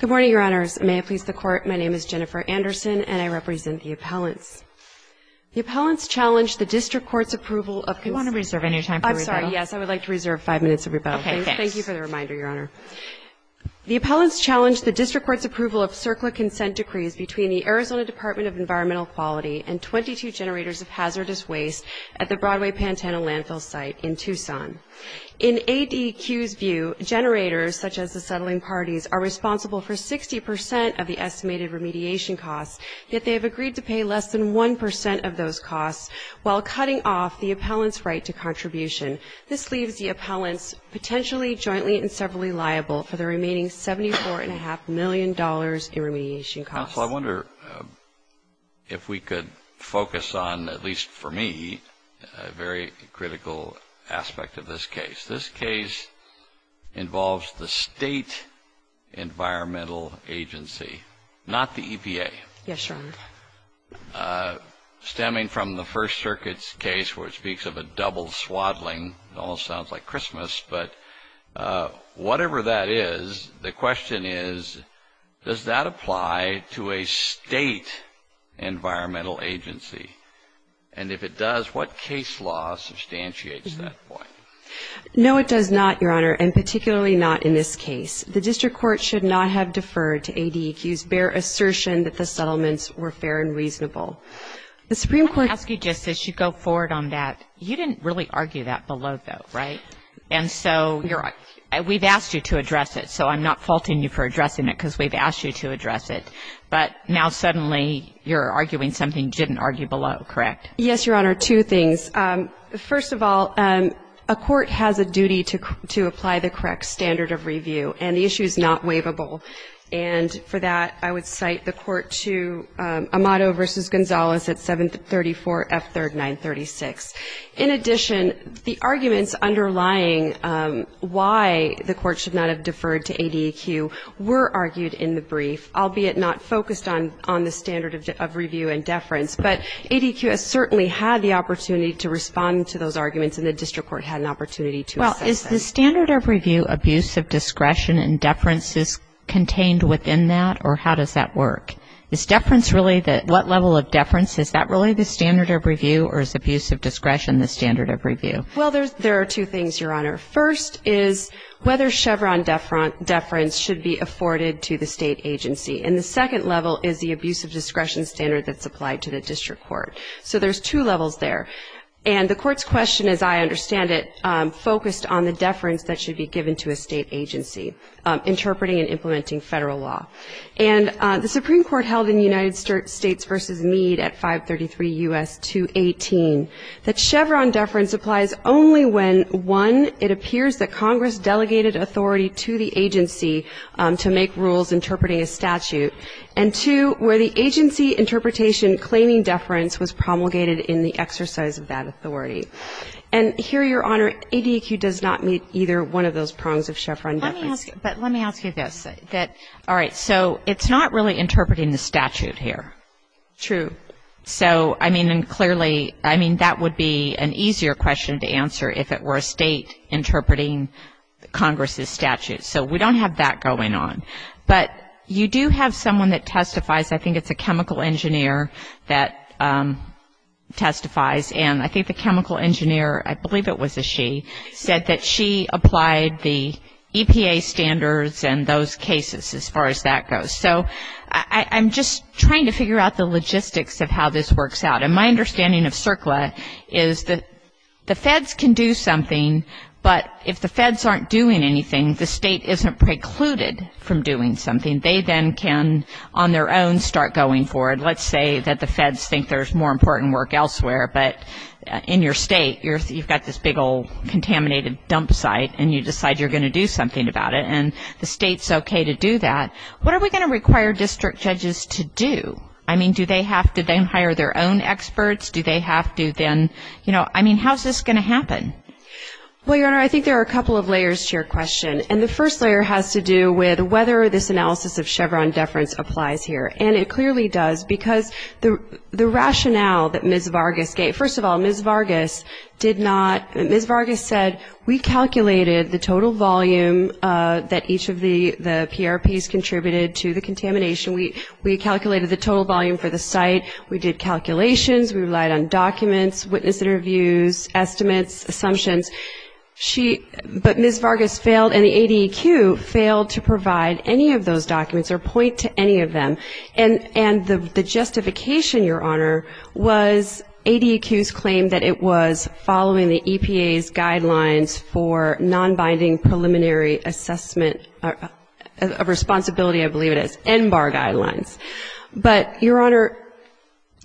Good morning, Your Honors. May I please the Court? My name is Jennifer Anderson, and I represent the appellants. The appellants challenge the District Court's approval of... Do you want to reserve any time for rebuttal? I'm sorry, yes, I would like to reserve five minutes of rebuttal. Okay, thanks. Thank you for the reminder, Your Honor. The appellants challenge the District Court's approval of CERCLA consent decrees between the Arizona Department of Environmental Quality and 22 generators of hazardous waste at the Broadway-Pantano landfill site in Tucson. In ADQ's view, generators, such as the settling parties, are responsible for 60% of the estimated remediation costs, yet they have agreed to pay less than 1% of those costs while cutting off the appellants' right to contribution. This leaves the appellants potentially jointly and severally liable for the remaining $74.5 million in remediation costs. Counsel, I wonder if we could focus on, at least for me, a very critical aspect of this case. This case involves the state environmental agency, not the EPA. Yes, Your Honor. Stemming from the First Circuit's case where it speaks of a double swaddling, it almost sounds like Christmas, but whatever that is, the question is, does that apply to a state environmental agency? And if it does, what case law substantiates that point? No, it does not, Your Honor, and particularly not in this case. The District Court should not have deferred to ADQ's bare assertion that the settlements were fair and reasonable. The Supreme Court — Okay, so we've asked you to address it, so I'm not faulting you for addressing it because we've asked you to address it. But now suddenly you're arguing something you didn't argue below, correct? Yes, Your Honor, two things. First of all, a court has a duty to apply the correct standard of review, and the issue is not waivable. And for that, I would cite the court to Amato v. Gonzalez at 734F3rd 936. In addition, the arguments underlying why the court should not have deferred to ADQ were argued in the brief, albeit not focused on the standard of review and deference. But ADQ has certainly had the opportunity to respond to those arguments, and the District Court had an opportunity to assess it. Well, is the standard of review abuse of discretion and deference contained within that, or how does that work? Is deference really the — what level of deference? Is that really the standard of review, or is abuse of discretion the standard of review? Well, there are two things, Your Honor. First is whether Chevron deference should be afforded to the state agency. And the second level is the abuse of discretion standard that's applied to the District Court. So there's two levels there. And the court's question, as I understand it, focused on the deference that should be given to a state agency, interpreting and implementing federal law. And the Supreme Court held in United States v. Meade at 533 U.S. 218 that Chevron deference applies only when, one, it appears that Congress delegated authority to the agency to make rules interpreting a statute, and two, where the agency interpretation claiming deference was promulgated in the exercise of that authority. And here, Your Honor, ADQ does not meet either one of those prongs of Chevron deference. But let me ask you this. All right. So it's not really interpreting the statute here. True. So, I mean, and clearly, I mean, that would be an easier question to answer if it were a state interpreting Congress's statute. So we don't have that going on. But you do have someone that testifies. I think it's a chemical engineer that testifies. And I think the chemical engineer, I believe it was a she, said that she applied the EPA standards and those cases as far as that goes. So I'm just trying to figure out the logistics of how this works out. And my understanding of CERCLA is that the feds can do something, but if the feds aren't doing anything, the state isn't precluded from doing something. They then can, on their own, start going forward. Let's say that the feds think there's more important work elsewhere, but in your state you've got this big old contaminated dump site, and you decide you're going to do something about it. And the state's okay to do that. What are we going to require district judges to do? I mean, do they have to then hire their own experts? Do they have to then, you know, I mean, how is this going to happen? Well, Your Honor, I think there are a couple of layers to your question. And the first layer has to do with whether this analysis of Chevron deference applies here. And it clearly does, because the rationale that Ms. Vargas gave, first of all, Ms. Vargas did not, Ms. Vargas said we calculated the total volume that each of the PRPs contributed to the contamination. We calculated the total volume for the site. We did calculations. We relied on documents, witness interviews, estimates, assumptions. But Ms. Vargas failed, and the ADEQ failed to provide any of those documents or point to any of them. And the justification, Your Honor, was ADEQ's claim that it was following the EPA's guidelines for nonbinding preliminary assessment of responsibility, I believe it is, NBAR guidelines. But, Your Honor,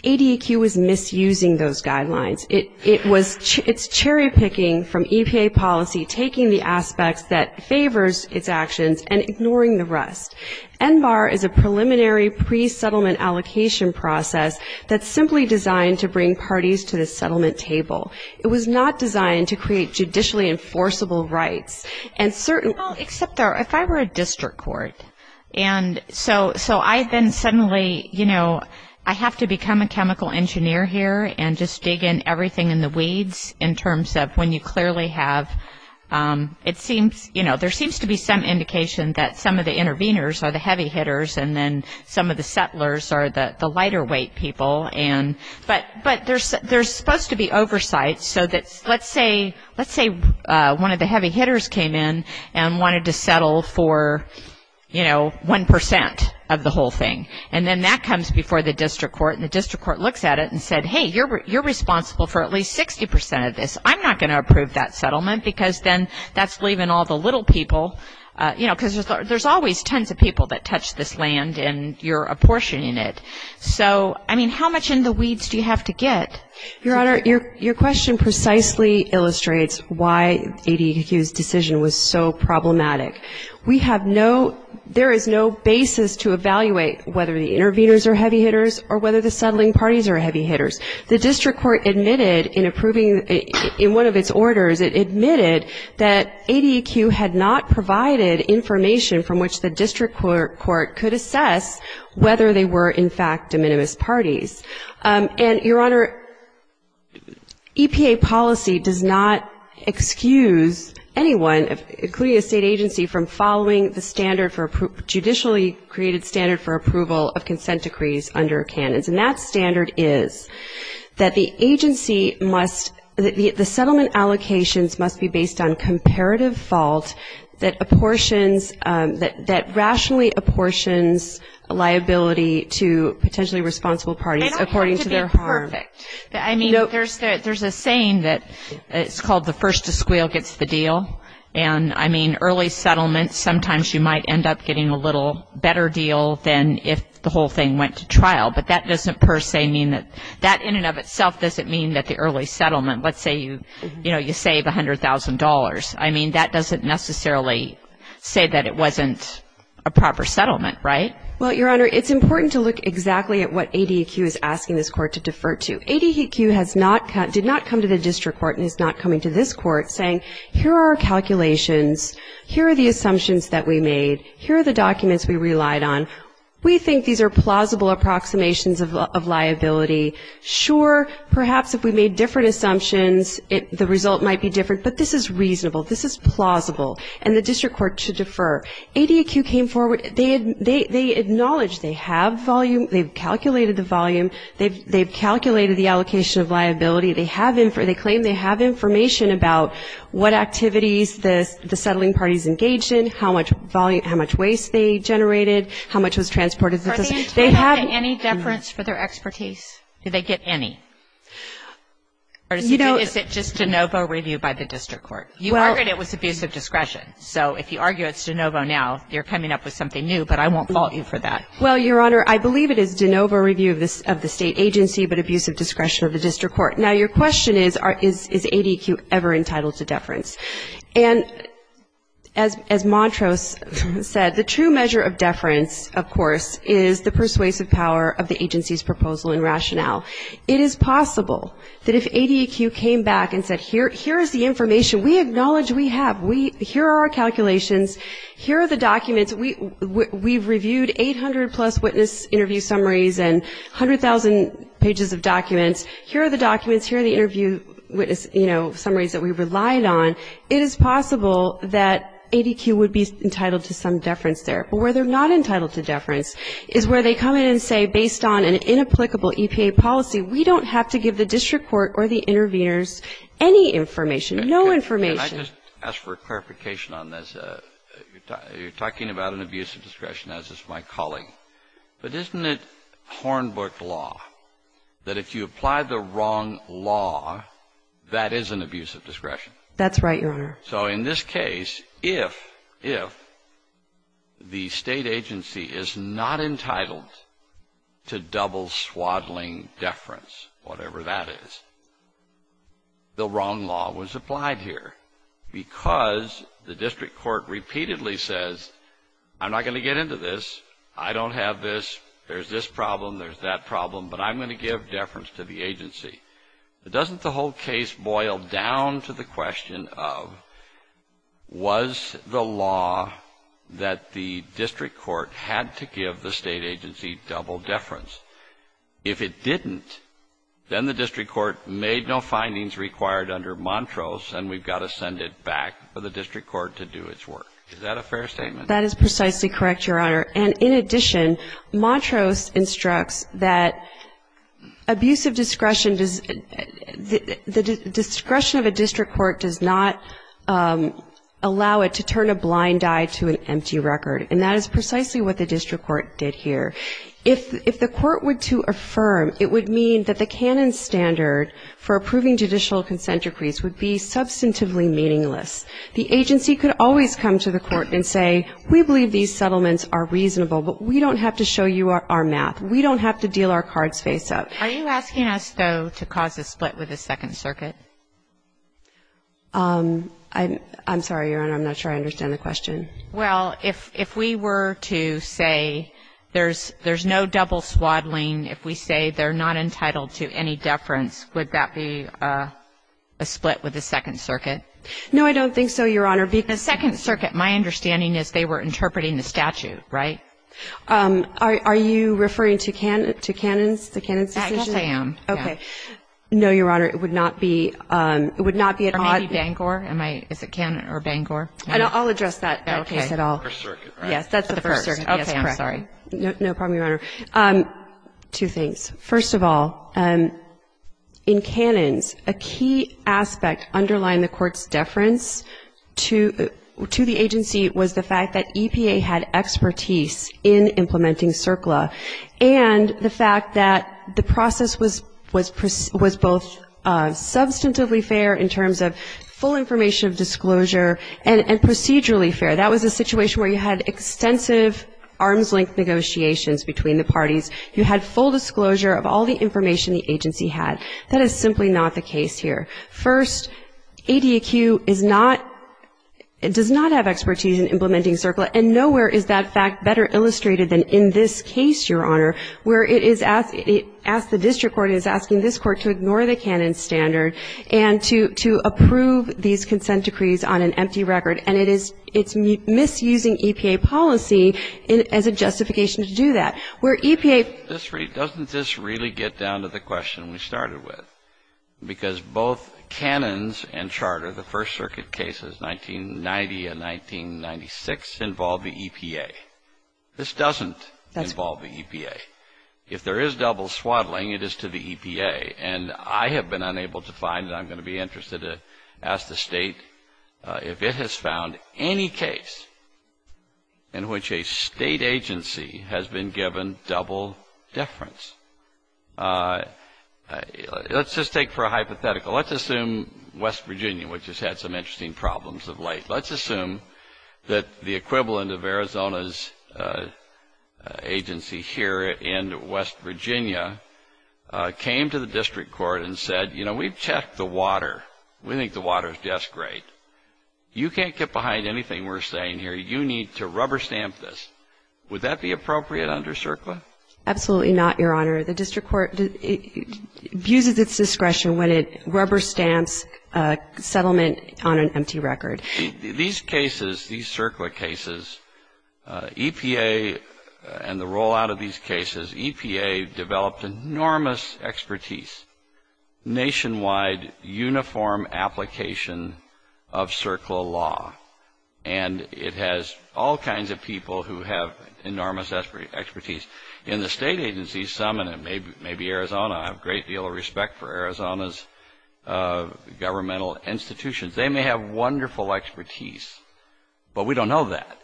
ADEQ was misusing those guidelines. It's cherry-picking from EPA policy, taking the aspects that favors its actions, and ignoring the rest. NBAR is a preliminary, pre-settlement allocation process that's simply designed to bring parties to the settlement table. It was not designed to create judicially enforceable rights. Well, except if I were a district court, and so I then suddenly, you know, I have to become a chemical engineer here and just dig in everything in the weeds in terms of when you clearly have, it seems, you know, there seems to be some indication that some of the interveners are the heavy hitters, and then some of the settlers are the lighter weight people. But there's supposed to be oversight so that, let's say one of the heavy hitters came in and wanted to settle for, you know, 1% of the whole thing. And then that comes before the district court, and the district court looks at it and said, hey, you're responsible for at least 60% of this. I'm not going to approve that settlement because then that's leaving all the little people, you know, because there's always tons of people that touch this land, and you're apportioning it. So, I mean, how much in the weeds do you have to get? Your Honor, your question precisely illustrates why ADEQ's decision was so problematic. We have no, there is no basis to evaluate whether the interveners are heavy hitters or whether the settling parties are heavy hitters. The district court admitted in approving, in one of its orders, it admitted that ADEQ had not provided information from which the district court could assess whether they were, in fact, de minimis parties. And, Your Honor, EPA policy does not excuse anyone, including a state agency, from following the standard for, judicially created standard for approval of consent decrees under Canons. And that standard is that the agency must, the settlement allocations must be based on comparative fault that apportions, that rationally apportions liability to potentially responsible parties according to their harm. They don't have to be perfect. I mean, there's a saying that it's called the first to squeal gets the deal. And, I mean, early settlements, sometimes you might end up getting a little better deal than if the whole thing went to trial. But that doesn't per se mean that, that in and of itself doesn't mean that the early settlement, let's say you, you know, you save $100,000. I mean, that doesn't necessarily say that it wasn't a proper settlement, right? Well, Your Honor, it's important to look exactly at what ADEQ is asking this court to defer to. ADEQ has not, did not come to the district court and is not coming to this court saying, here are our calculations. Here are the assumptions that we made. Here are the documents we relied on. We think these are plausible approximations of liability. Sure, perhaps if we made different assumptions, it, the result might be different. But this is reasonable. This is plausible. And the district court should defer. ADEQ came forward. They acknowledged they have volume. They've calculated the volume. They've calculated the allocation of liability. They have, they claim they have information about what activities the settling parties engaged in, how much volume, how much waste they generated, how much was transported. Are they entitled to any deference for their expertise? Do they get any? Or is it just de novo review by the district court? You argued it was abusive discretion. So if you argue it's de novo now, you're coming up with something new. But I won't fault you for that. Well, Your Honor, I believe it is de novo review of the state agency, but abusive discretion of the district court. Now, your question is, is ADEQ ever entitled to deference? And as Montrose said, the true measure of deference, of course, is the persuasive power of the agency's proposal and rationale. It is possible that if ADEQ came back and said, here is the information we acknowledge we have. Here are our calculations. Here are the documents. We've reviewed 800-plus witness interview summaries and 100,000 pages of documents. Here are the documents. Here are the interview, you know, summaries that we relied on. It is possible that ADEQ would be entitled to some deference there. But where they're not entitled to deference is where they come in and say, based on an inapplicable EPA policy, we don't have to give the district court or the interveners any information, no information. Can I just ask for clarification on this? You're talking about an abusive discretion, as is my colleague. But isn't it Hornbook law that if you apply the wrong law, that is an abusive discretion? That's right, Your Honor. So in this case, if the state agency is not entitled to double swaddling deference, whatever that is, the wrong law was applied here because the district court repeatedly says, I'm not going to get into this. I don't have this. There's this problem. There's that problem. Doesn't the whole case boil down to the question of, was the law that the district court had to give the state agency double deference? If it didn't, then the district court made no findings required under Montrose, and we've got to send it back for the district court to do its work. Is that a fair statement? That is precisely correct, Your Honor. And, in addition, Montrose instructs that abusive discretion, the discretion of a district court does not allow it to turn a blind eye to an empty record, and that is precisely what the district court did here. If the court were to affirm, it would mean that the canon standard for approving judicial consent decrees would be substantively meaningless. The agency could always come to the court and say, we believe these settlements are reasonable, but we don't have to show you our math. We don't have to deal our cards face-up. Are you asking us, though, to cause a split with the Second Circuit? I'm sorry, Your Honor. I'm not sure I understand the question. Well, if we were to say there's no double swaddling, if we say they're not entitled to any deference, would that be a split with the Second Circuit? No, I don't think so, Your Honor. The Second Circuit, my understanding is they were interpreting the statute, right? Are you referring to canons, the canons decision? Yes, I am. Okay. No, Your Honor, it would not be an odd. Or maybe Bangor. Is it canon or Bangor? I'll address that case at all. Okay. The First Circuit. Yes, that's the First Circuit. Okay, I'm sorry. No problem, Your Honor. Two things. First of all, in canons, a key aspect underlying the court's deference to the agency was the fact that EPA had expertise in implementing CERCLA, and the fact that the process was both substantively fair in terms of full information of disclosure and procedurally fair. That was a situation where you had extensive arms-length negotiations between the parties. You had full disclosure of all the information the agency had. That is simply not the case here. First, ADAQ does not have expertise in implementing CERCLA, and nowhere is that fact better illustrated than in this case, Your Honor, where the district court is asking this court to ignore the canon standard and to approve these consent decrees on an empty record, and it's misusing EPA policy as a justification to do that. Doesn't this really get down to the question we started with? Because both canons and charter, the First Circuit cases, 1990 and 1996, involve the EPA. This doesn't involve the EPA. If there is double swaddling, it is to the EPA, and I have been unable to find, and I'm going to be interested to ask the State, if it has found any case in which a State agency has been given double deference. Let's just take for a hypothetical. Let's assume West Virginia, which has had some interesting problems of late. Let's assume that the equivalent of Arizona's agency here in West Virginia came to the district court and said, you know, we've checked the water. We think the water is just great. You can't get behind anything we're saying here. You need to rubber stamp this. Would that be appropriate under CERCLA? Absolutely not, Your Honor. The district court abuses its discretion when it rubber stamps a settlement on an empty record. These cases, these CERCLA cases, EPA and the rollout of these cases, EPA developed enormous expertise, nationwide uniform application of CERCLA law, and it has all kinds of people who have enormous expertise. In the State agencies, some, and it may be Arizona, I have a great deal of respect for Arizona's governmental institutions. They may have wonderful expertise, but we don't know that.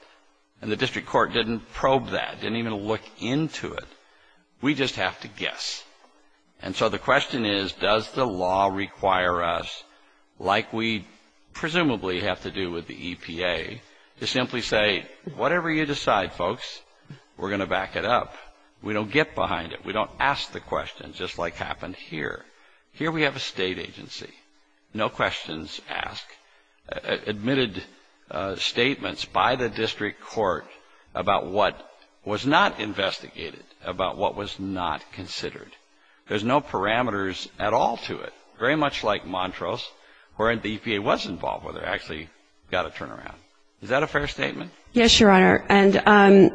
And the district court didn't probe that, didn't even look into it. We just have to guess. And so the question is, does the law require us, like we presumably have to do with the EPA, to simply say, whatever you decide, folks, we're going to back it up. We don't get behind it. We don't ask the questions, just like happened here. Here we have a State agency, no questions asked, admitted statements by the district court about what was not investigated, about what was not considered. There's no parameters at all to it, very much like Montrose, where the EPA was involved, where they actually got a turnaround. Is that a fair statement? Yes, Your Honor. And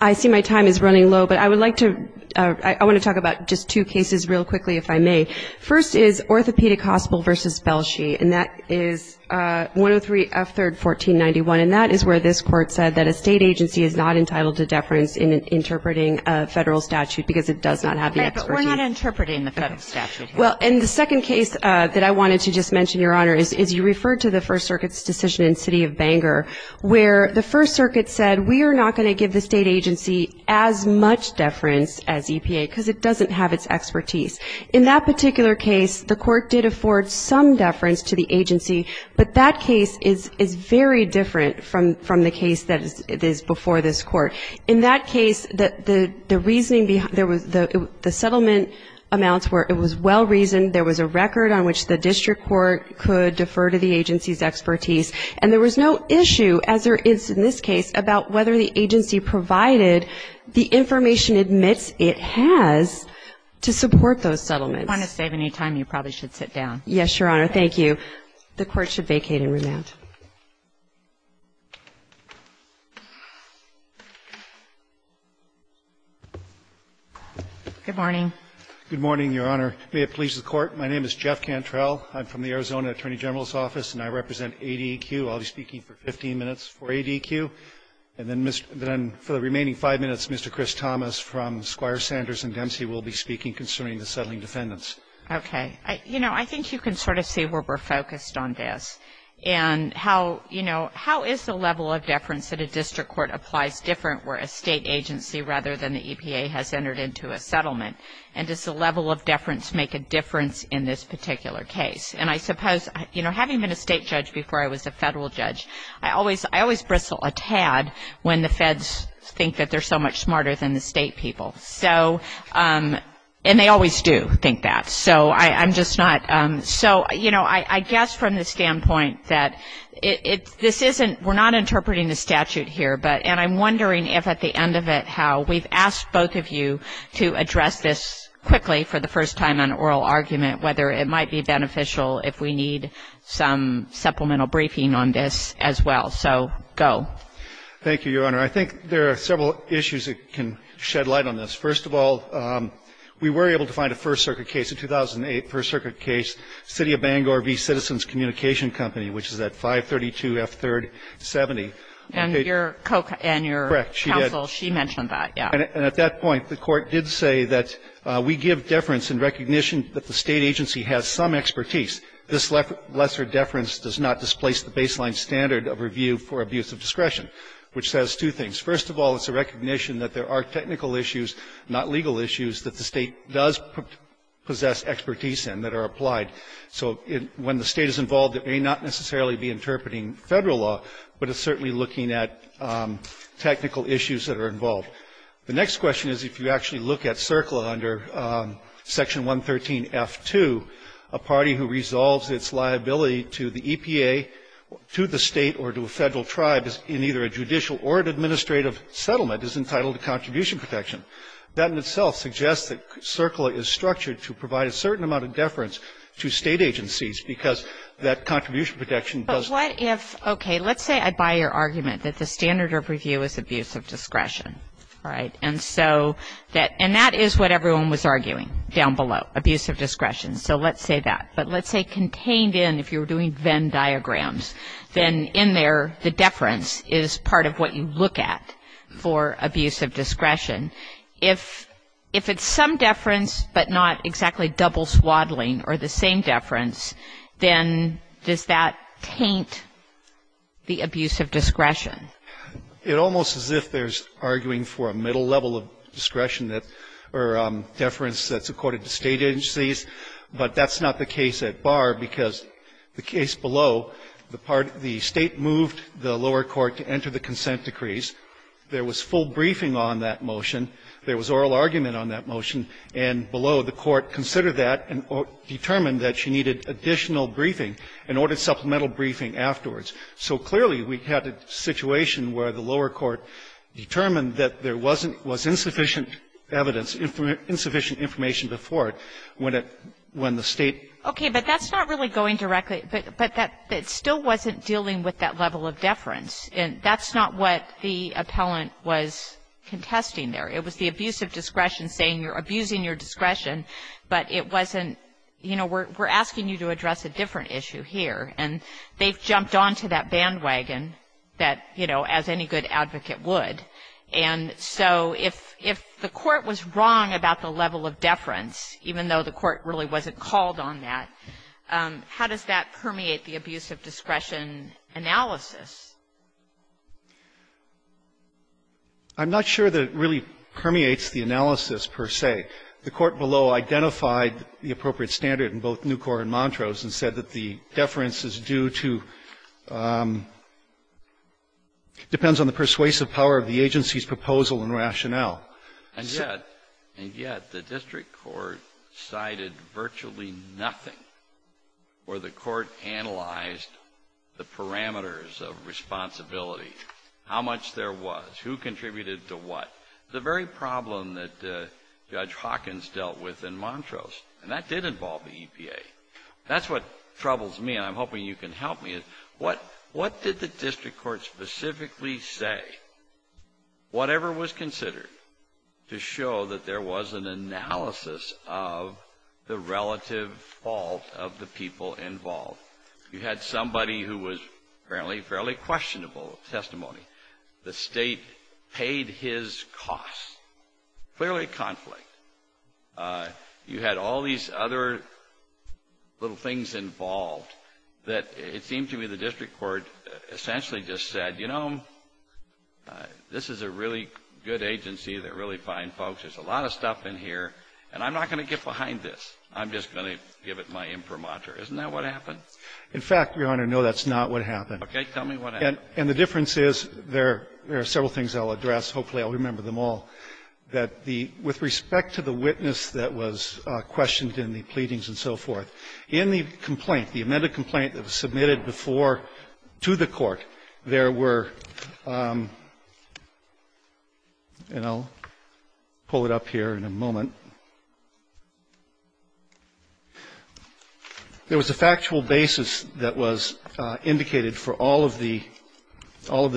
I see my time is running low, but I would like to, I want to talk about just two cases real quickly, if I may. First is Orthopedic Hospital v. Belshey, and that is 103 F. 3rd, 1491. And that is where this Court said that a State agency is not entitled to deference in interpreting a Federal statute because it does not have the expertise. Right, but we're not interpreting the Federal statute here. Well, and the second case that I wanted to just mention, Your Honor, is you referred to the First Circuit's decision in the City of Bangor, where the First Circuit said, we are not going to give the State agency as much deference as EPA because it doesn't have its expertise. In that particular case, the Court did afford some deference to the agency, but that case is very different from the case that is before this Court. In that case, the reasoning, the settlement amounts were, it was well-reasoned. There was a record on which the district court could defer to the agency's expertise, and there was no issue, as there is in this case, about whether the agency provided the information it admits it has to support those settlements. If you want to save any time, you probably should sit down. Yes, Your Honor. Thank you. The Court should vacate and remand. Good morning. Good morning, Your Honor. May it please the Court. My name is Jeff Cantrell. I'm from the Arizona Attorney General's Office, and I represent ADEQ. I'll be speaking for 15 minutes for ADEQ. And then for the remaining 5 minutes, Mr. Chris Thomas from Squire Sanders and Dempsey will be speaking concerning the settling defendants. Okay. You know, I think you can sort of see where we're focused on this. And how, you know, how is the level of deference that a district court applies different where a state agency rather than the EPA has entered into a settlement? And does the level of deference make a difference in this particular case? And I suppose, you know, having been a state judge before I was a federal judge, I always bristle a tad when the feds think that they're so much smarter than the state people. So, and they always do think that. So I'm just not. So, you know, I guess from the standpoint that it's this isn't we're not interpreting the statute here, but and I'm wondering if at the end of it how we've asked both of you to address this quickly for the first time on oral argument whether it might be beneficial if we need some supplemental briefing on this as well. So go. Thank you, Your Honor. I think there are several issues that can shed light on this. First of all, we were able to find a First Circuit case, a 2008 First Circuit case, City of Bangor v. Citizens Communication Company, which is at 532F370. And your counsel, she mentioned that, yeah. And at that point, the Court did say that we give deference in recognition that the state agency has some expertise. This lesser deference does not displace the baseline standard of review for abuse of discretion, which says two things. First of all, it's a recognition that there are technical issues, not legal issues, that the State does possess expertise in that are applied. So when the State is involved, it may not necessarily be interpreting Federal law, but it's certainly looking at technical issues that are involved. The next question is if you actually look at CERCLA under Section 113F2, a party who resolves its liability to the EPA, to the State, or to a Federal tribe in either a judicial or an administrative settlement is entitled to contribution protection. That in itself suggests that CERCLA is structured to provide a certain amount of deference to State agencies because that contribution protection does not. Kagan. But what if, okay, let's say I buy your argument that the standard of review is abuse of discretion, right? And so that, and that is what everyone was arguing down below, abuse of discretion. So let's say that. But let's say contained in, if you're doing Venn diagrams, then in there the deference is part of what you look at for abuse of discretion. If it's some deference but not exactly double swaddling or the same deference, then does that taint the abuse of discretion? It almost as if there's arguing for a middle level of discretion that, or deference that's accorded to State agencies. But that's not the case at bar because the case below, the State moved the lower court to enter the consent decrees. There was full briefing on that motion. There was oral argument on that motion. And below, the court considered that and determined that she needed additional briefing and ordered supplemental briefing afterwards. So clearly we had a situation where the lower court determined that there wasn't was insufficient evidence, insufficient information before it when the State. Okay. But that's not really going directly. But that still wasn't dealing with that level of deference. And that's not what the appellant was contesting there. It was the abuse of discretion saying you're abusing your discretion, but it wasn't you know, we're asking you to address a different issue here. And they've jumped onto that bandwagon that, you know, as any good advocate would. And so if the court was wrong about the level of deference, even though the court really wasn't called on that, how does that permeate the abuse of discretion analysis? I'm not sure that it really permeates the analysis, per se. The court below identified the appropriate standard in both Newcorp and Montrose and said that the deference is due to, depends on the persuasive power of the agency's proposal and rationale. And yet the district court cited virtually nothing where the court analyzed the parameters of responsibility, how much there was, who contributed to what. The very problem that Judge Hawkins dealt with in Montrose, and that did involve the EPA. That's what troubles me, and I'm hoping you can help me. What did the district court specifically say, whatever was considered, to show that there was an analysis of the relative fault of the people involved? You had somebody who was apparently fairly questionable testimony. The State paid his costs. Clearly a conflict. You had all these other little things involved that it seemed to me the district court essentially just said, you know, this is a really good agency. They're really fine folks. There's a lot of stuff in here, and I'm not going to get behind this. I'm just going to give it my imprimatur. Isn't that what happened? In fact, Your Honor, no, that's not what happened. Okay. Tell me what happened. And the difference is there are several things I'll address. Hopefully I'll remember them all. With respect to the witness that was questioned in the pleadings and so forth, in the complaint, the amended complaint that was submitted before to the court, there were, and I'll pull it up here in a moment, there was a factual basis that was indicated for all of the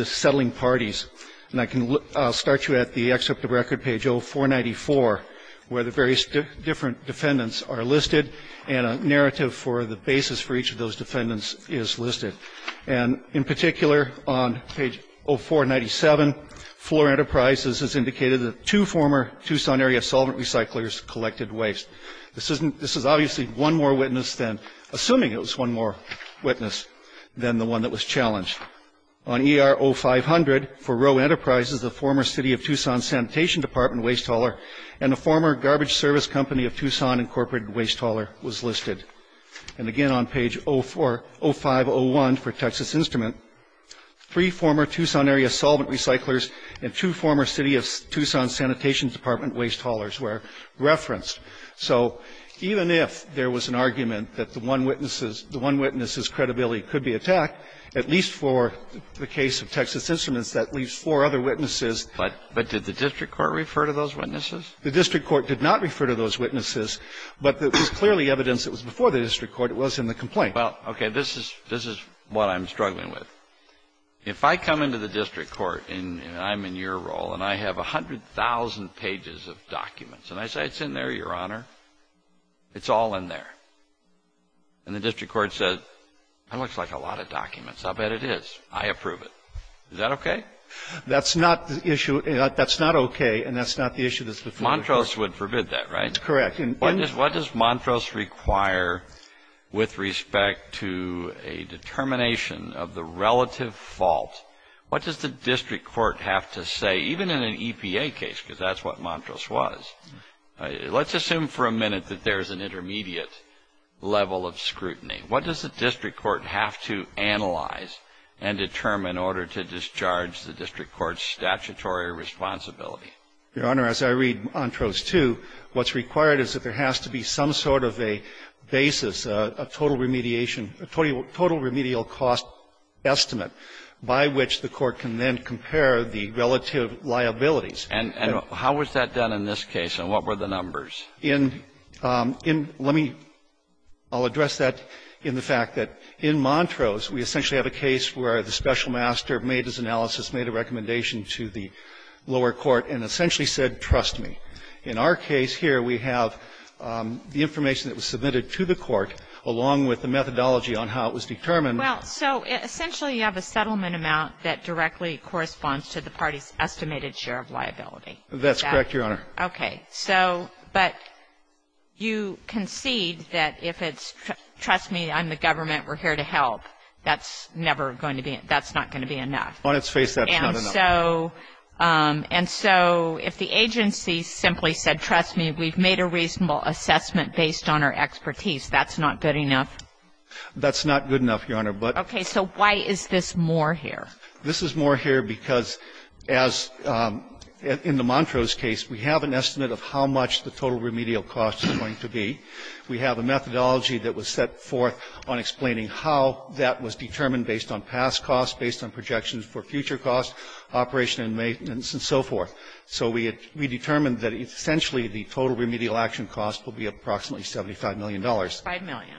settling parties. And I'll start you at the excerpt of record, page 0494, where the various different defendants are listed, and a narrative for the basis for each of those defendants is listed. And in particular, on page 0497, Floor Enterprises has indicated that two former Tucson area solvent recyclers collected waste. This is obviously one more witness than, assuming it was one more witness than the one that was challenged. On ER 0500, for Rowe Enterprises, the former City of Tucson Sanitation Department waste hauler and the former garbage service company of Tucson incorporated waste hauler was listed. And again, on page 0501 for Texas Instrument, three former Tucson area solvent recyclers and two former City of Tucson Sanitation Department waste haulers were referenced. So even if there was an argument that the one witness's credibility could be attacked, at least for the case of Texas Instruments, that leaves four other witnesses. But did the district court refer to those witnesses? The district court did not refer to those witnesses. But there was clearly evidence that was before the district court. It was in the complaint. Well, okay. This is what I'm struggling with. If I come into the district court, and I'm in your role, and I have 100,000 pages of documents, and I say, it's in there, Your Honor. It's all in there. And the district court says, that looks like a lot of documents. I'll bet it is. I approve it. Is that okay? That's not the issue. That's not okay. And that's not the issue that's before the court. Montrose would forbid that, right? Correct. And What does Montrose require with respect to a determination of the relative fault? What does the district court have to say, even in an EPA case, because that's what Montrose was? Let's assume for a minute that there's an intermediate level of scrutiny. What does the district court have to analyze and determine in order to discharge the district court's statutory responsibility? Your Honor, as I read Montrose 2, what's required is that there has to be some sort of a basis, a total remediation, a total remedial cost estimate by which the court can then compare the relative liabilities. And how was that done in this case? And what were the numbers? In — in — let me — I'll address that in the fact that in Montrose, we essentially have a case where the special master made his analysis, made a recommendation to the lower court, and essentially said, trust me. In our case here, we have the information that was submitted to the court, along with the methodology on how it was determined. Well, so essentially you have a settlement amount that directly corresponds to the party's estimated share of liability. That's correct, Your Honor. Okay. So — but you concede that if it's trust me, I'm the government, we're here to help, that's never going to be — that's not going to be enough. On its face, that's not enough. And so if the agency simply said, trust me, we've made a reasonable assessment based on our expertise, that's not good enough? That's not good enough, Your Honor, but — Okay. So why is this more here? This is more here because, as in the Montrose case, we have an estimate of how much the total remedial cost is going to be. We have a methodology that was set forth on explaining how that was determined based on past costs, based on projections for future costs, operation and maintenance, and so forth. So we determined that essentially the total remedial action cost will be approximately $75 million. $75 million.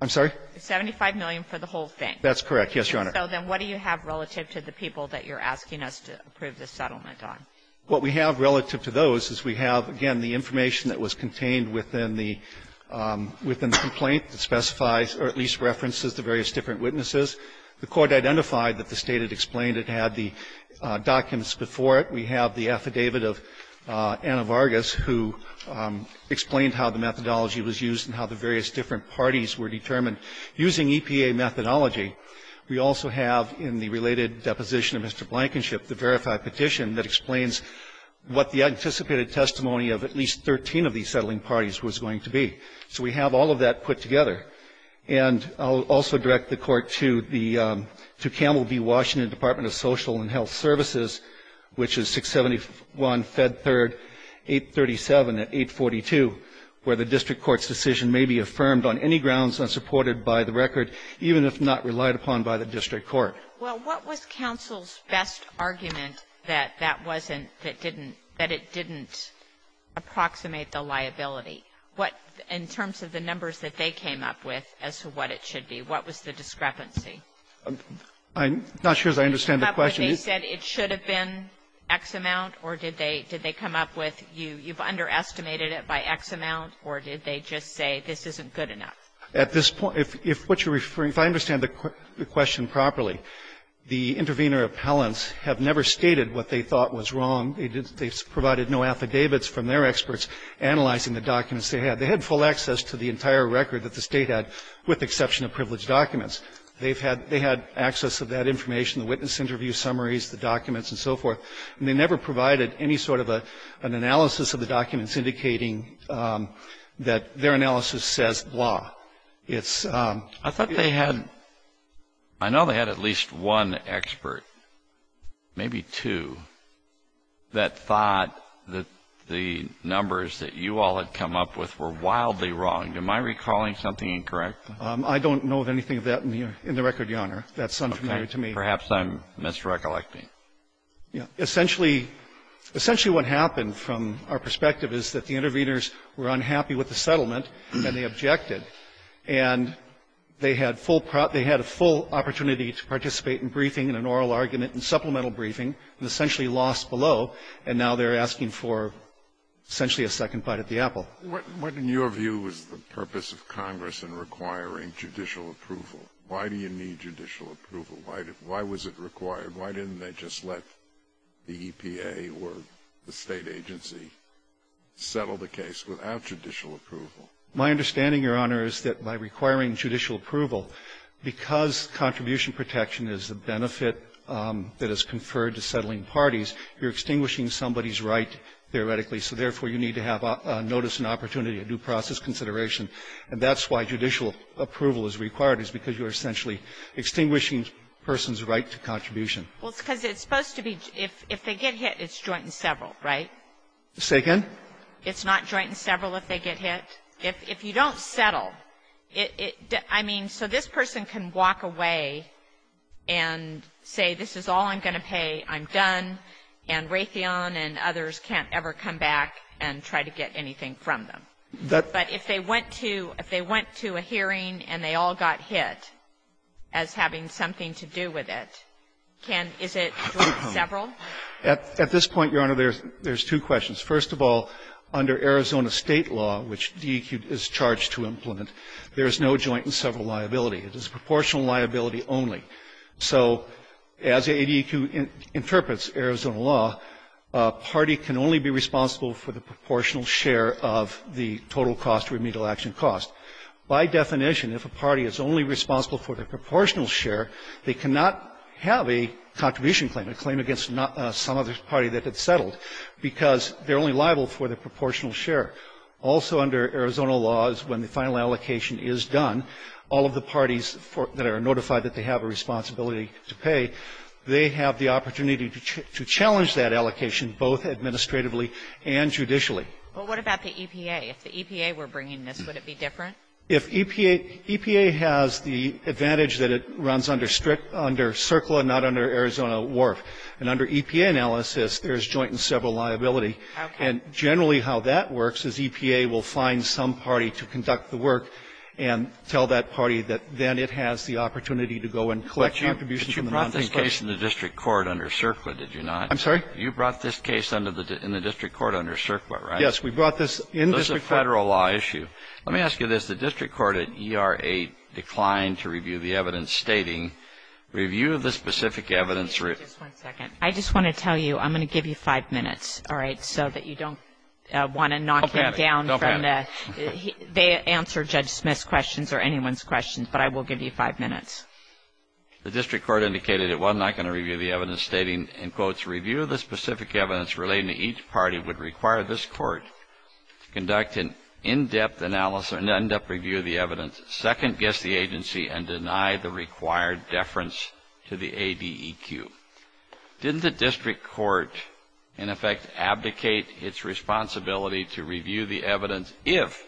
I'm sorry? $75 million for the whole thing. That's correct, yes, Your Honor. So then what do you have relative to the people that you're asking us to approve the settlement on? What we have relative to those is we have, again, the information that was contained within the — within the complaint that specifies or at least references the various different witnesses. The Court identified that the State had explained it, had the documents before it. We have the affidavit of Anna Vargas, who explained how the methodology was used and how the various different parties were determined using EPA methodology. We also have in the related deposition of Mr. Blankenship the verified petition that explains what the anticipated testimony of at least 13 of these settling parties was going to be. So we have all of that put together. And I'll also direct the Court to the — to Campbell v. Washington, Department of Social and Health Services, which is 671 Fed 3rd 837 at 842, where the district court's decision may be affirmed on any grounds unsupported by the record, even if not relied upon by the district court. Kagan. Well, what was counsel's best argument that that wasn't, that didn't, that it didn't approximate the liability? What, in terms of the numbers that they came up with as to what it should be, what was the discrepancy? I'm not sure as I understand the question. Did they come up where they said it should have been X amount, or did they, did they come up with, you've underestimated it by X amount, or did they just say this isn't good enough? At this point, if what you're referring, if I understand the question properly, the intervener appellants have never stated what they thought was wrong. They provided no affidavits from their experts analyzing the documents they had. They had full access to the entire record that the State had, with the exception of privileged documents. They've had, they had access to that information, the witness interview summaries, the documents, and so forth. And they never provided any sort of an analysis of the documents indicating that their analysis says blah. It's... I thought they had, I know they had at least one expert, maybe two, that thought that the numbers that you all had come up with were wildly wrong. Am I recalling something incorrect? I don't know of anything of that in the record, Your Honor. That's unfamiliar to me. Perhaps I'm misrecollecting. Essentially, what happened from our perspective is that the interveners were unhappy with the settlement, and they objected. And they had full, they had a full opportunity to participate in briefing and an oral argument and supplemental briefing, and essentially lost below. And now they're asking for essentially a second bite at the apple. What, in your view, is the purpose of Congress in requiring judicial approval? Why do you need judicial approval? Why was it required? Why didn't they just let the EPA or the state agency settle the case without judicial approval? My understanding, Your Honor, is that by requiring judicial approval, because contribution protection is a benefit that is conferred to settling parties, you're extinguishing somebody's right, theoretically, so therefore you need to have a notice and opportunity, a due process consideration. And that's why judicial approval is required, is because you're essentially extinguishing a person's right to contribution. Well, because it's supposed to be, if they get hit, it's joint and several, right? Say again? It's not joint and several if they get hit. If you don't settle, I mean, so this person can walk away and say this is all I'm going to pay, I'm done, and Raytheon and others can't ever come back and try to get anything from them. But if they went to a hearing and they all got hit as having something to do with it, can — is it joint and several? At this point, Your Honor, there's two questions. First of all, under Arizona State law, which DEQ is charged to implement, there is no joint and several liability. It is proportional liability only. So as ADEQ interprets Arizona law, a party can only be responsible for the proportional share of the total cost of remedial action cost. By definition, if a party is only responsible for the proportional share, they cannot have a contribution claim, a claim against some other party that had settled, because they're only liable for the proportional share. Also under Arizona law is when the final allocation is done, all of the parties that are notified that they have a responsibility to pay, they have the opportunity to challenge that allocation both administratively and judicially. But what about the EPA? If the EPA were bringing this, would it be different? If EPA — EPA has the advantage that it runs under strict — under CERCLA, not under Arizona WARF. And under EPA analysis, there's joint and several liability. Okay. And generally how that works is EPA will find some party to conduct the work and tell that party that then it has the opportunity to go and collect contributions from the non-state. But you brought this case in the district court under CERCLA, did you not? I'm sorry? You brought this case in the district court under CERCLA, right? Yes. We brought this in district court. This is a Federal law issue. Let me ask you this. The district court at ER-8 declined to review the evidence stating, review the specific evidence — Just one second. I just want to tell you, I'm going to give you five minutes, all right, so that you don't want to knock it down from the — Don't panic. Don't panic. They answer Judge Smith's questions or anyone's questions, but I will give you five minutes. The district court indicated it was not going to review the evidence stating, in quotes, review the specific evidence relating to each party would require this court to conduct an in-depth analysis or an in-depth review of the evidence, second-guess the agency, and deny the required deference to the ADEQ. Didn't the district court, in effect, abdicate its responsibility to review the evidence if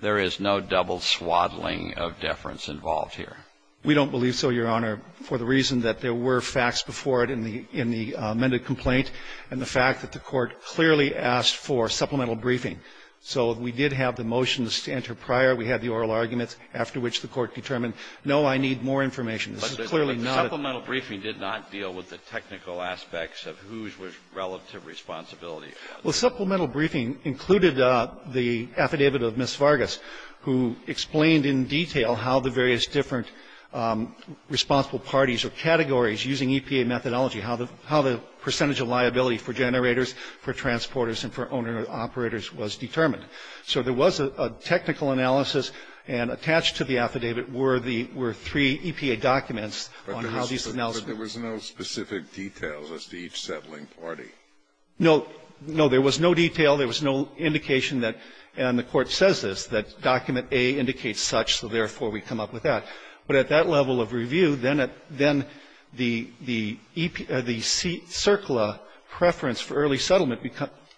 there is no double swaddling of deference involved here? We don't believe so, Your Honor, for the reason that there were facts before it in the amended complaint and the fact that the court clearly asked for supplemental briefing. So we did have the motions to enter prior. We had the oral arguments after which the court determined, no, I need more information. This is clearly not a — But the supplemental briefing did not deal with the technical aspects of whose was relative responsibility. Well, supplemental briefing included the affidavit of Ms. Vargas, who explained in detail how the various different responsible parties or categories using EPA methodology how the percentage of liability for generators, for transporters, and for owner-operators was determined. So there was a technical analysis, and attached to the affidavit were the — were three EPA documents on how these analyses were done. But there was no specific details as to each settling party? No. No, there was no detail. There was no indication that, and the court says this, that document A indicates such, so therefore we come up with that. But at that level of review, then at — then the — the CERCLA preference for early settlement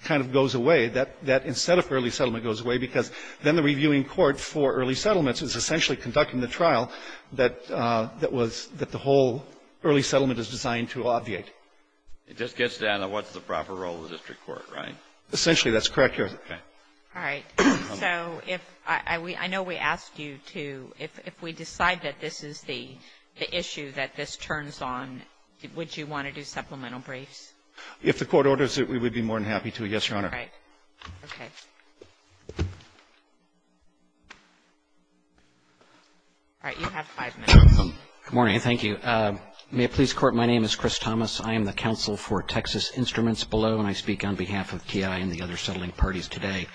kind of goes away, that instead of early settlement goes away, because then the reviewing court for early settlements is essentially conducting the trial that was — that the whole early settlement is designed to obviate. It just gets down to what's the proper role of the district court, right? Essentially, that's correct, Your Honor. All right. So if — I know we asked you to — if we decide that this is the issue that this turns on, would you want to do supplemental briefs? If the Court orders it, we would be more than happy to, yes, Your Honor. All right. Okay. All right. You have five minutes. Good morning. Thank you. May it please the Court, my name is Chris Thomas. I am the counsel for Texas Instruments Below, and I speak on behalf of TI and the other settling parties today.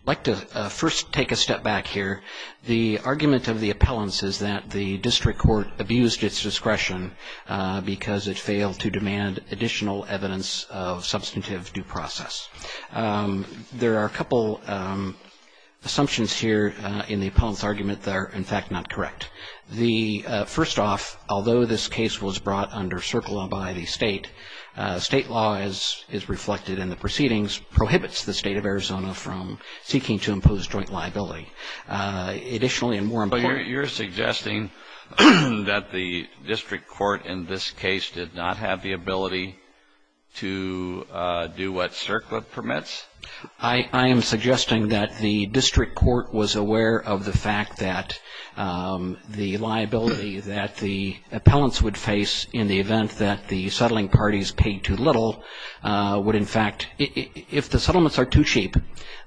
I'd like to first take a step back here. The argument of the appellants is that the district court abused its discretion because it failed to demand additional evidence of substantive due process. There are a couple assumptions here in the appellant's argument that are, in fact, not correct. The — first off, although this case was brought under CERCLA by the state, state law, as is reflected in the proceedings, prohibits the state of Arizona from seeking to impose joint liability. Additionally, and more importantly — So you're suggesting that the district court in this case did not have the ability to do what CERCLA permits? I am suggesting that the district court was aware of the fact that the liability that the appellants would face in the event that the settling parties paid too little would, in fact — if the settlements are too cheap,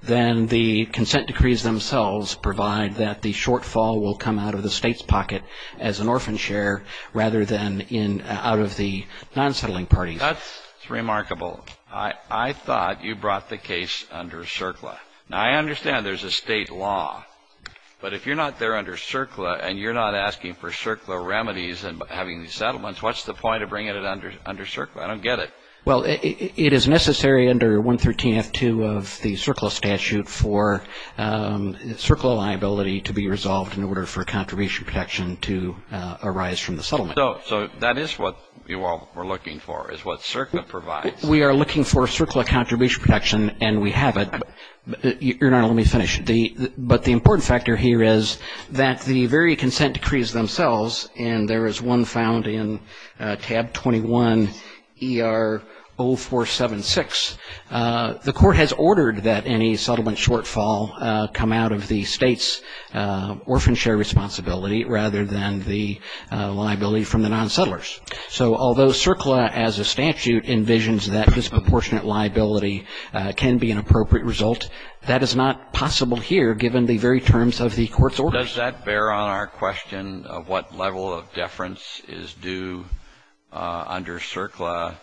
then the consent decrees themselves provide that the shortfall will come out of the state's pocket as an orphan share, rather than out of the non-settling parties. That's remarkable. I thought you brought the case under CERCLA. Now, I understand there's a state law, but if you're not there under CERCLA and you're not asking for CERCLA remedies and having these settlements, what's the point of bringing it under CERCLA? I don't get it. Well, it is necessary under 113-F2 of the CERCLA statute for CERCLA liability to be resolved in order for contribution protection to arise from the settlement. So that is what you all were looking for, is what CERCLA provides. We are looking for CERCLA contribution protection, and we have it. Your Honor, let me finish. But the important factor here is that the very consent decrees themselves, and there is one found in tab 21 ER 0476, the court has ordered that any settlement shortfall come out of the state's orphan share responsibility, rather than the liability from the non-settlers. So although CERCLA as a statute envisions that disproportionate liability can be an appropriate result, that is not possible here given the very terms of the court's orders. Does that bear on our question of what level of deference is due under CERCLA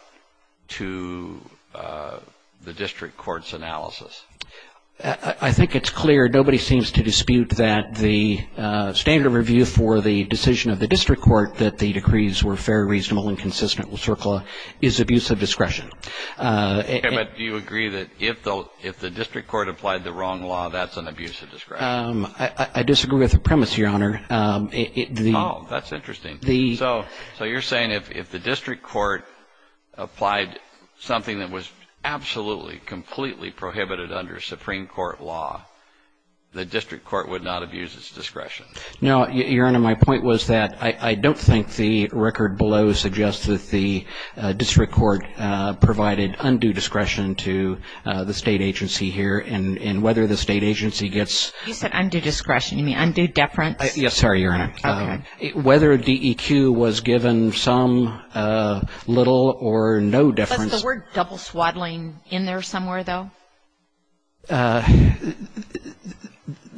to the district court's analysis? I think it's clear. Nobody seems to dispute that the standard review for the decision of the district court that the decrees were fair, reasonable, and consistent with CERCLA is abuse of discretion. Okay, but do you agree that if the district court applied the wrong law, that's an abuse of discretion? I disagree with the premise, Your Honor. Oh, that's interesting. So you're saying if the district court applied something that was absolutely, completely prohibited under Supreme Court law, the district court would not abuse its discretion? No, Your Honor. Your Honor, my point was that I don't think the record below suggests that the district court provided undue discretion to the state agency here, and whether the state agency gets- You said undue discretion. You mean undue deference? Yes, sorry, Your Honor. Okay. Whether DEQ was given some, little, or no deference- Was the word double swaddling in there somewhere, though?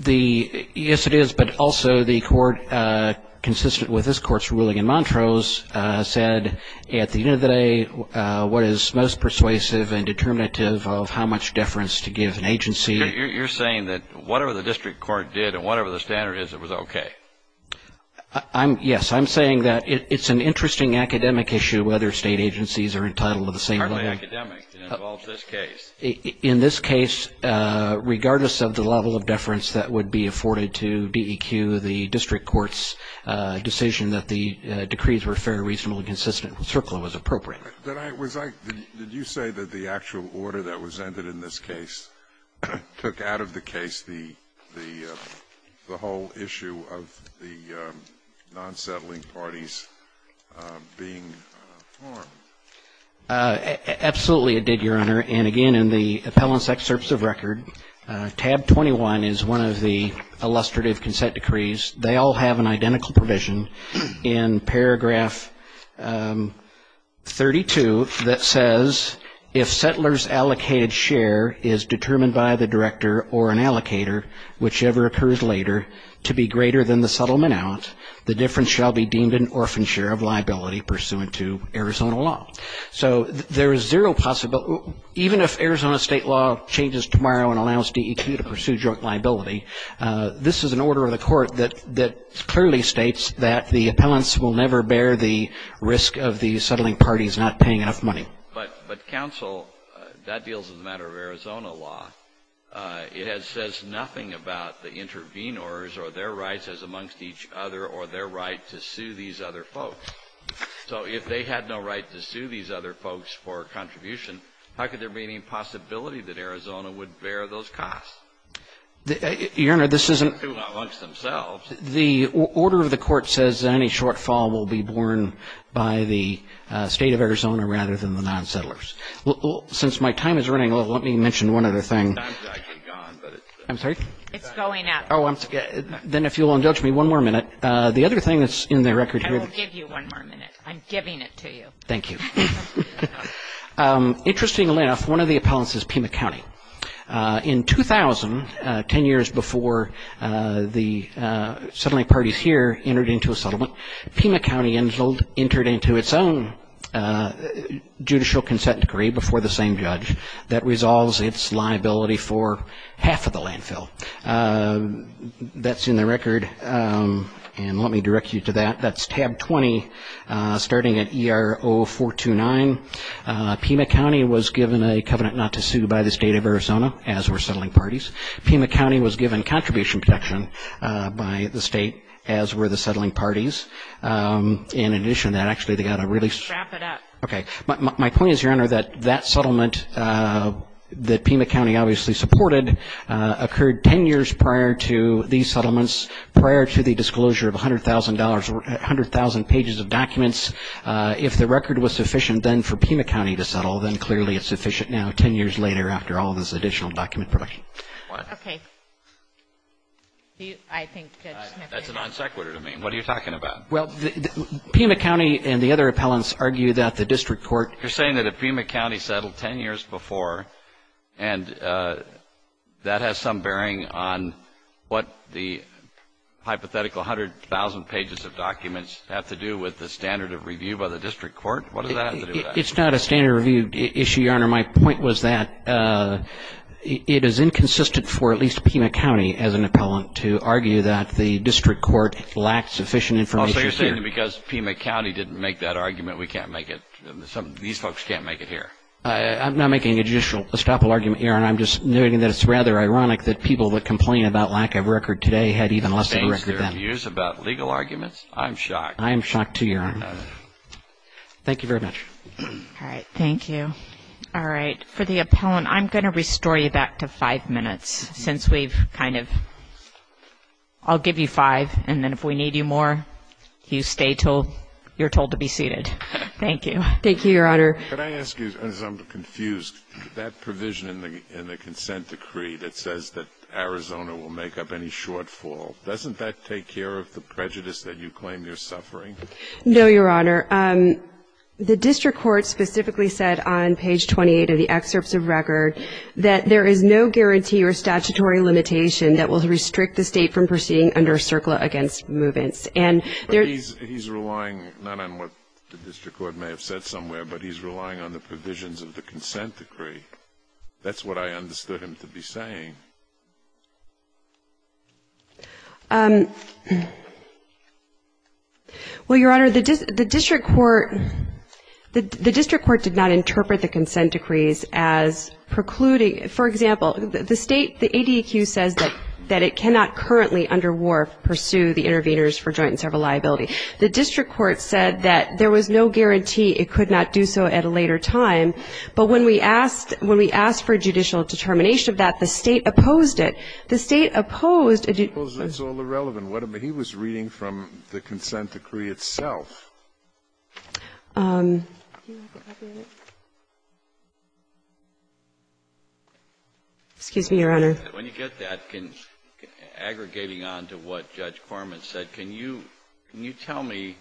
Yes, it is, but also the court, consistent with this court's ruling in Montrose, said at the end of the day, what is most persuasive and determinative of how much deference to give an agency- You're saying that whatever the district court did and whatever the standard is, it was okay? Yes, I'm saying that it's an interesting academic issue whether state agencies are entitled to the same- Hardly academic. It involves this case. In this case, regardless of the level of deference that would be afforded to DEQ, the district court's decision that the decrees were fair, reasonable, and consistent with CERCLA was appropriate. Did you say that the actual order that was ended in this case took out of the case the whole issue of the non-settling parties being harmed? Absolutely, it did, Your Honor. And again, in the appellant's excerpts of record, tab 21 is one of the illustrative consent decrees. They all have an identical provision in paragraph 32 that says, if settler's allocated share is determined by the director or an allocator, whichever occurs later, to be greater than the settlement out, the deference shall be deemed an orphan share of liability pursuant to Arizona law. So there is zero possibility, even if Arizona state law changes tomorrow and allows DEQ to pursue joint liability, this is an order of the court that clearly states that the appellants will never bear the risk of the settling parties not paying enough money. But counsel, that deals with a matter of Arizona law. It says nothing about the intervenors or their rights as amongst each other or their right to sue these other folks. So if they had no right to sue these other folks for contribution, how could there be any possibility that Arizona would bear those costs? Your Honor, this isn't the order of the court says any shortfall will be borne by the State of Arizona rather than the non-settlers. Since my time is running low, let me mention one other thing. I'm sorry? It's going up. Then if you'll indulge me one more minute. The other thing that's in the record here. I'll give you one more minute. I'm giving it to you. Thank you. Interestingly enough, one of the appellants is Pima County. In 2000, 10 years before the settling parties here entered into a settlement, Pima County entered into its own judicial consent decree before the same judge that resolves its liability for half of the landfill. That's in the record. And let me direct you to that. That's tab 20, starting at ERO 429. Pima County was given a covenant not to sue by the State of Arizona, as were settling parties. Pima County was given contribution protection by the State, as were the settling parties. In addition to that, actually, they got a release. Wrap it up. Okay. My point is, Your Honor, that that settlement that Pima County obviously supported occurred 10 years prior to these settlements, prior to the disclosure of $100,000 or 100,000 pages of documents. If the record was sufficient then for Pima County to settle, then clearly it's sufficient now, 10 years later, after all this additional document protection. Okay. I think Judge Smith. That's a non sequitur to me. What are you talking about? Well, Pima County and the other appellants argue that the district court You're saying that if Pima County settled 10 years before, and that has some bearing on what the hypothetical 100,000 pages of documents have to do with the standard of review by the district court? What does that have to do with that? It's not a standard review issue, Your Honor. My point was that it is inconsistent for at least Pima County, as an appellant, to argue that the district court lacked sufficient information here. Oh, so you're saying that because Pima County didn't make that argument, we can't make it, these folks can't make it here. I'm not making a judicial estoppel argument, Your Honor. I'm just noting that it's rather ironic that people that complain about lack of record today had even less of a record then. Standards to use about legal arguments? I'm shocked. I am shocked, too, Your Honor. Thank you very much. All right. Thank you. All right. For the appellant, I'm going to restore you back to five minutes since we've kind of ‑‑ I'll give you five, and then if we need you more, you stay until you're told to be seated. Thank you. Thank you, Your Honor. Could I ask you, as I'm confused, that provision in the consent decree that says that Arizona will make up any shortfall, doesn't that take care of the prejudice that you claim you're suffering? No, Your Honor. The district court specifically said on page 28 of the excerpts of record that there is no guarantee or statutory limitation that will restrict the State from proceeding under CERCLA against movements. But he's relying not on what the district court may have said somewhere, but he's relying on the provisions of the consent decree. Well, Your Honor, the district court did not interpret the consent decrees as precluding ‑‑ for example, the state, the ADEQ says that it cannot currently, under WARF, pursue the interveners for joint and several liability. The district court said that there was no guarantee it could not do so at a later time, but when we asked for judicial determination of that, the State opposed it. The State opposed a ‑‑ It's all irrelevant. He was reading from the consent decree itself. Excuse me, Your Honor. When you get that, aggregating on to what Judge Corman said, can you tell me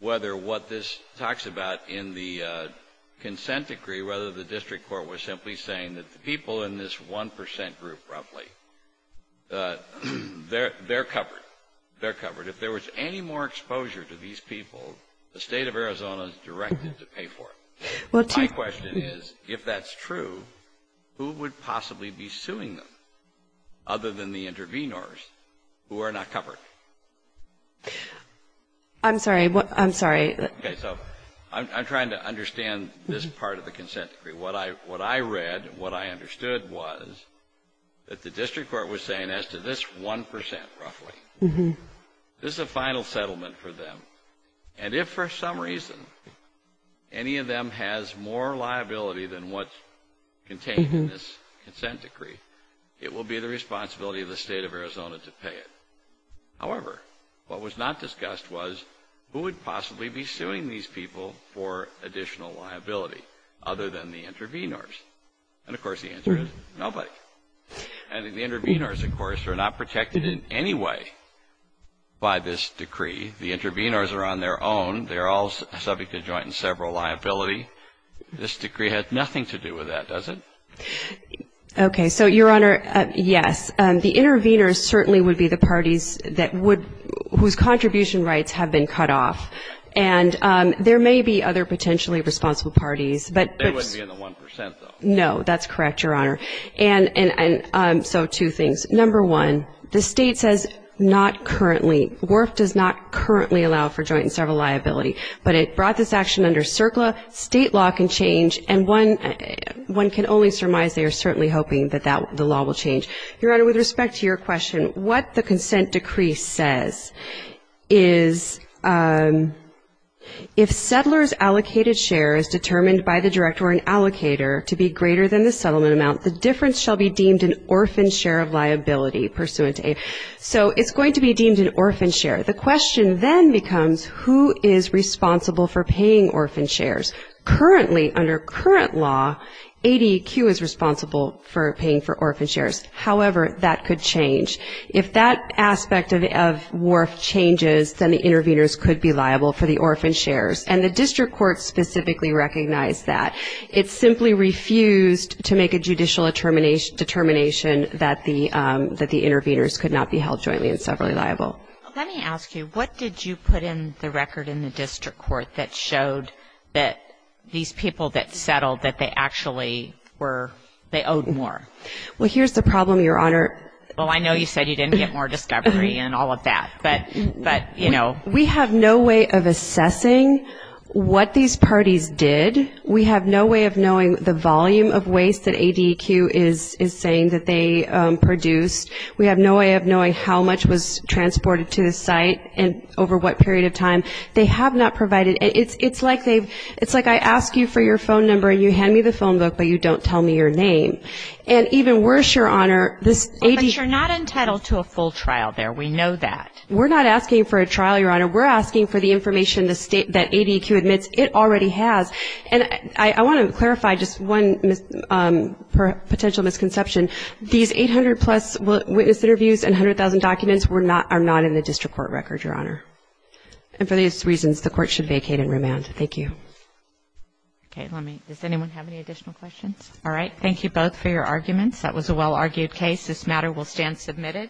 whether what this talks about in the consent decree, whether the district court was simply saying that the people in this 1% group, roughly, they're covered. They're covered. If there was any more exposure to these people, the State of Arizona is directed to pay for it. My question is, if that's true, who would possibly be suing them, other than the intervenors, who are not covered? I'm sorry. I'm sorry. Okay. So I'm trying to understand this part of the consent decree. What I read and what I understood was that the district court was saying as to this 1%, roughly, this is a final settlement for them, and if for some reason any of them has more liability than what's contained in this consent decree, it will be the responsibility of the State of Arizona to pay it. However, what was not discussed was who would possibly be suing these people for additional liability, other than the intervenors? And, of course, the answer is nobody. And the intervenors, of course, are not protected in any way by this decree. The intervenors are on their own. They're all subject to joint and several liability. This decree has nothing to do with that, does it? Okay. So, Your Honor, yes. The intervenors certainly would be the parties that would — whose contribution rights have been cut off. And there may be other potentially responsible parties. They wouldn't be in the 1%, though. No. That's correct, Your Honor. And so two things. Number one, the State says not currently. WRF does not currently allow for joint and several liability. But it brought this action under CERCLA. State law can change. And one can only surmise they are certainly hoping that the law will change. Your Honor, with respect to your question, what the consent decree says is, if settler's allocated share is determined by the director or an allocator to be greater than the settlement amount, the difference shall be deemed an orphan share of liability pursuant to ADEQ. So it's going to be deemed an orphan share. The question then becomes, who is responsible for paying orphan shares? Currently, under current law, ADEQ is responsible for paying for orphan shares. However, that could change. If that aspect of WRF changes, then the intervenors could be liable for the orphan shares. And the district court specifically recognized that. It simply refused to make a judicial determination that the intervenors could not be held jointly and severally liable. Let me ask you, what did you put in the record in the district court that showed that these people that settled, that they actually were, they owed more? Well, here's the problem, Your Honor. Well, I know you said you didn't get more discovery and all of that. But, you know. We have no way of assessing what these parties did. We have no way of knowing the volume of waste that ADEQ is saying that they produced. We have no way of knowing how much was transported to the site and over what period of time. They have not provided. It's like they've, it's like I ask you for your phone number and you hand me the phone book, but you don't tell me your name. And even worse, Your Honor, this ADEQ. But you're not entitled to a full trial there. We know that. We're not asking for a trial, Your Honor. We're asking for the information that ADEQ admits it already has. And I want to clarify just one potential misconception. These 800-plus witness interviews and 100,000 documents are not in the district court record, Your Honor. And for these reasons, the court should vacate and remand. Thank you. Okay. Does anyone have any additional questions? All right. Thank you both for your arguments. That was a well-argued case. This matter will stand submitted.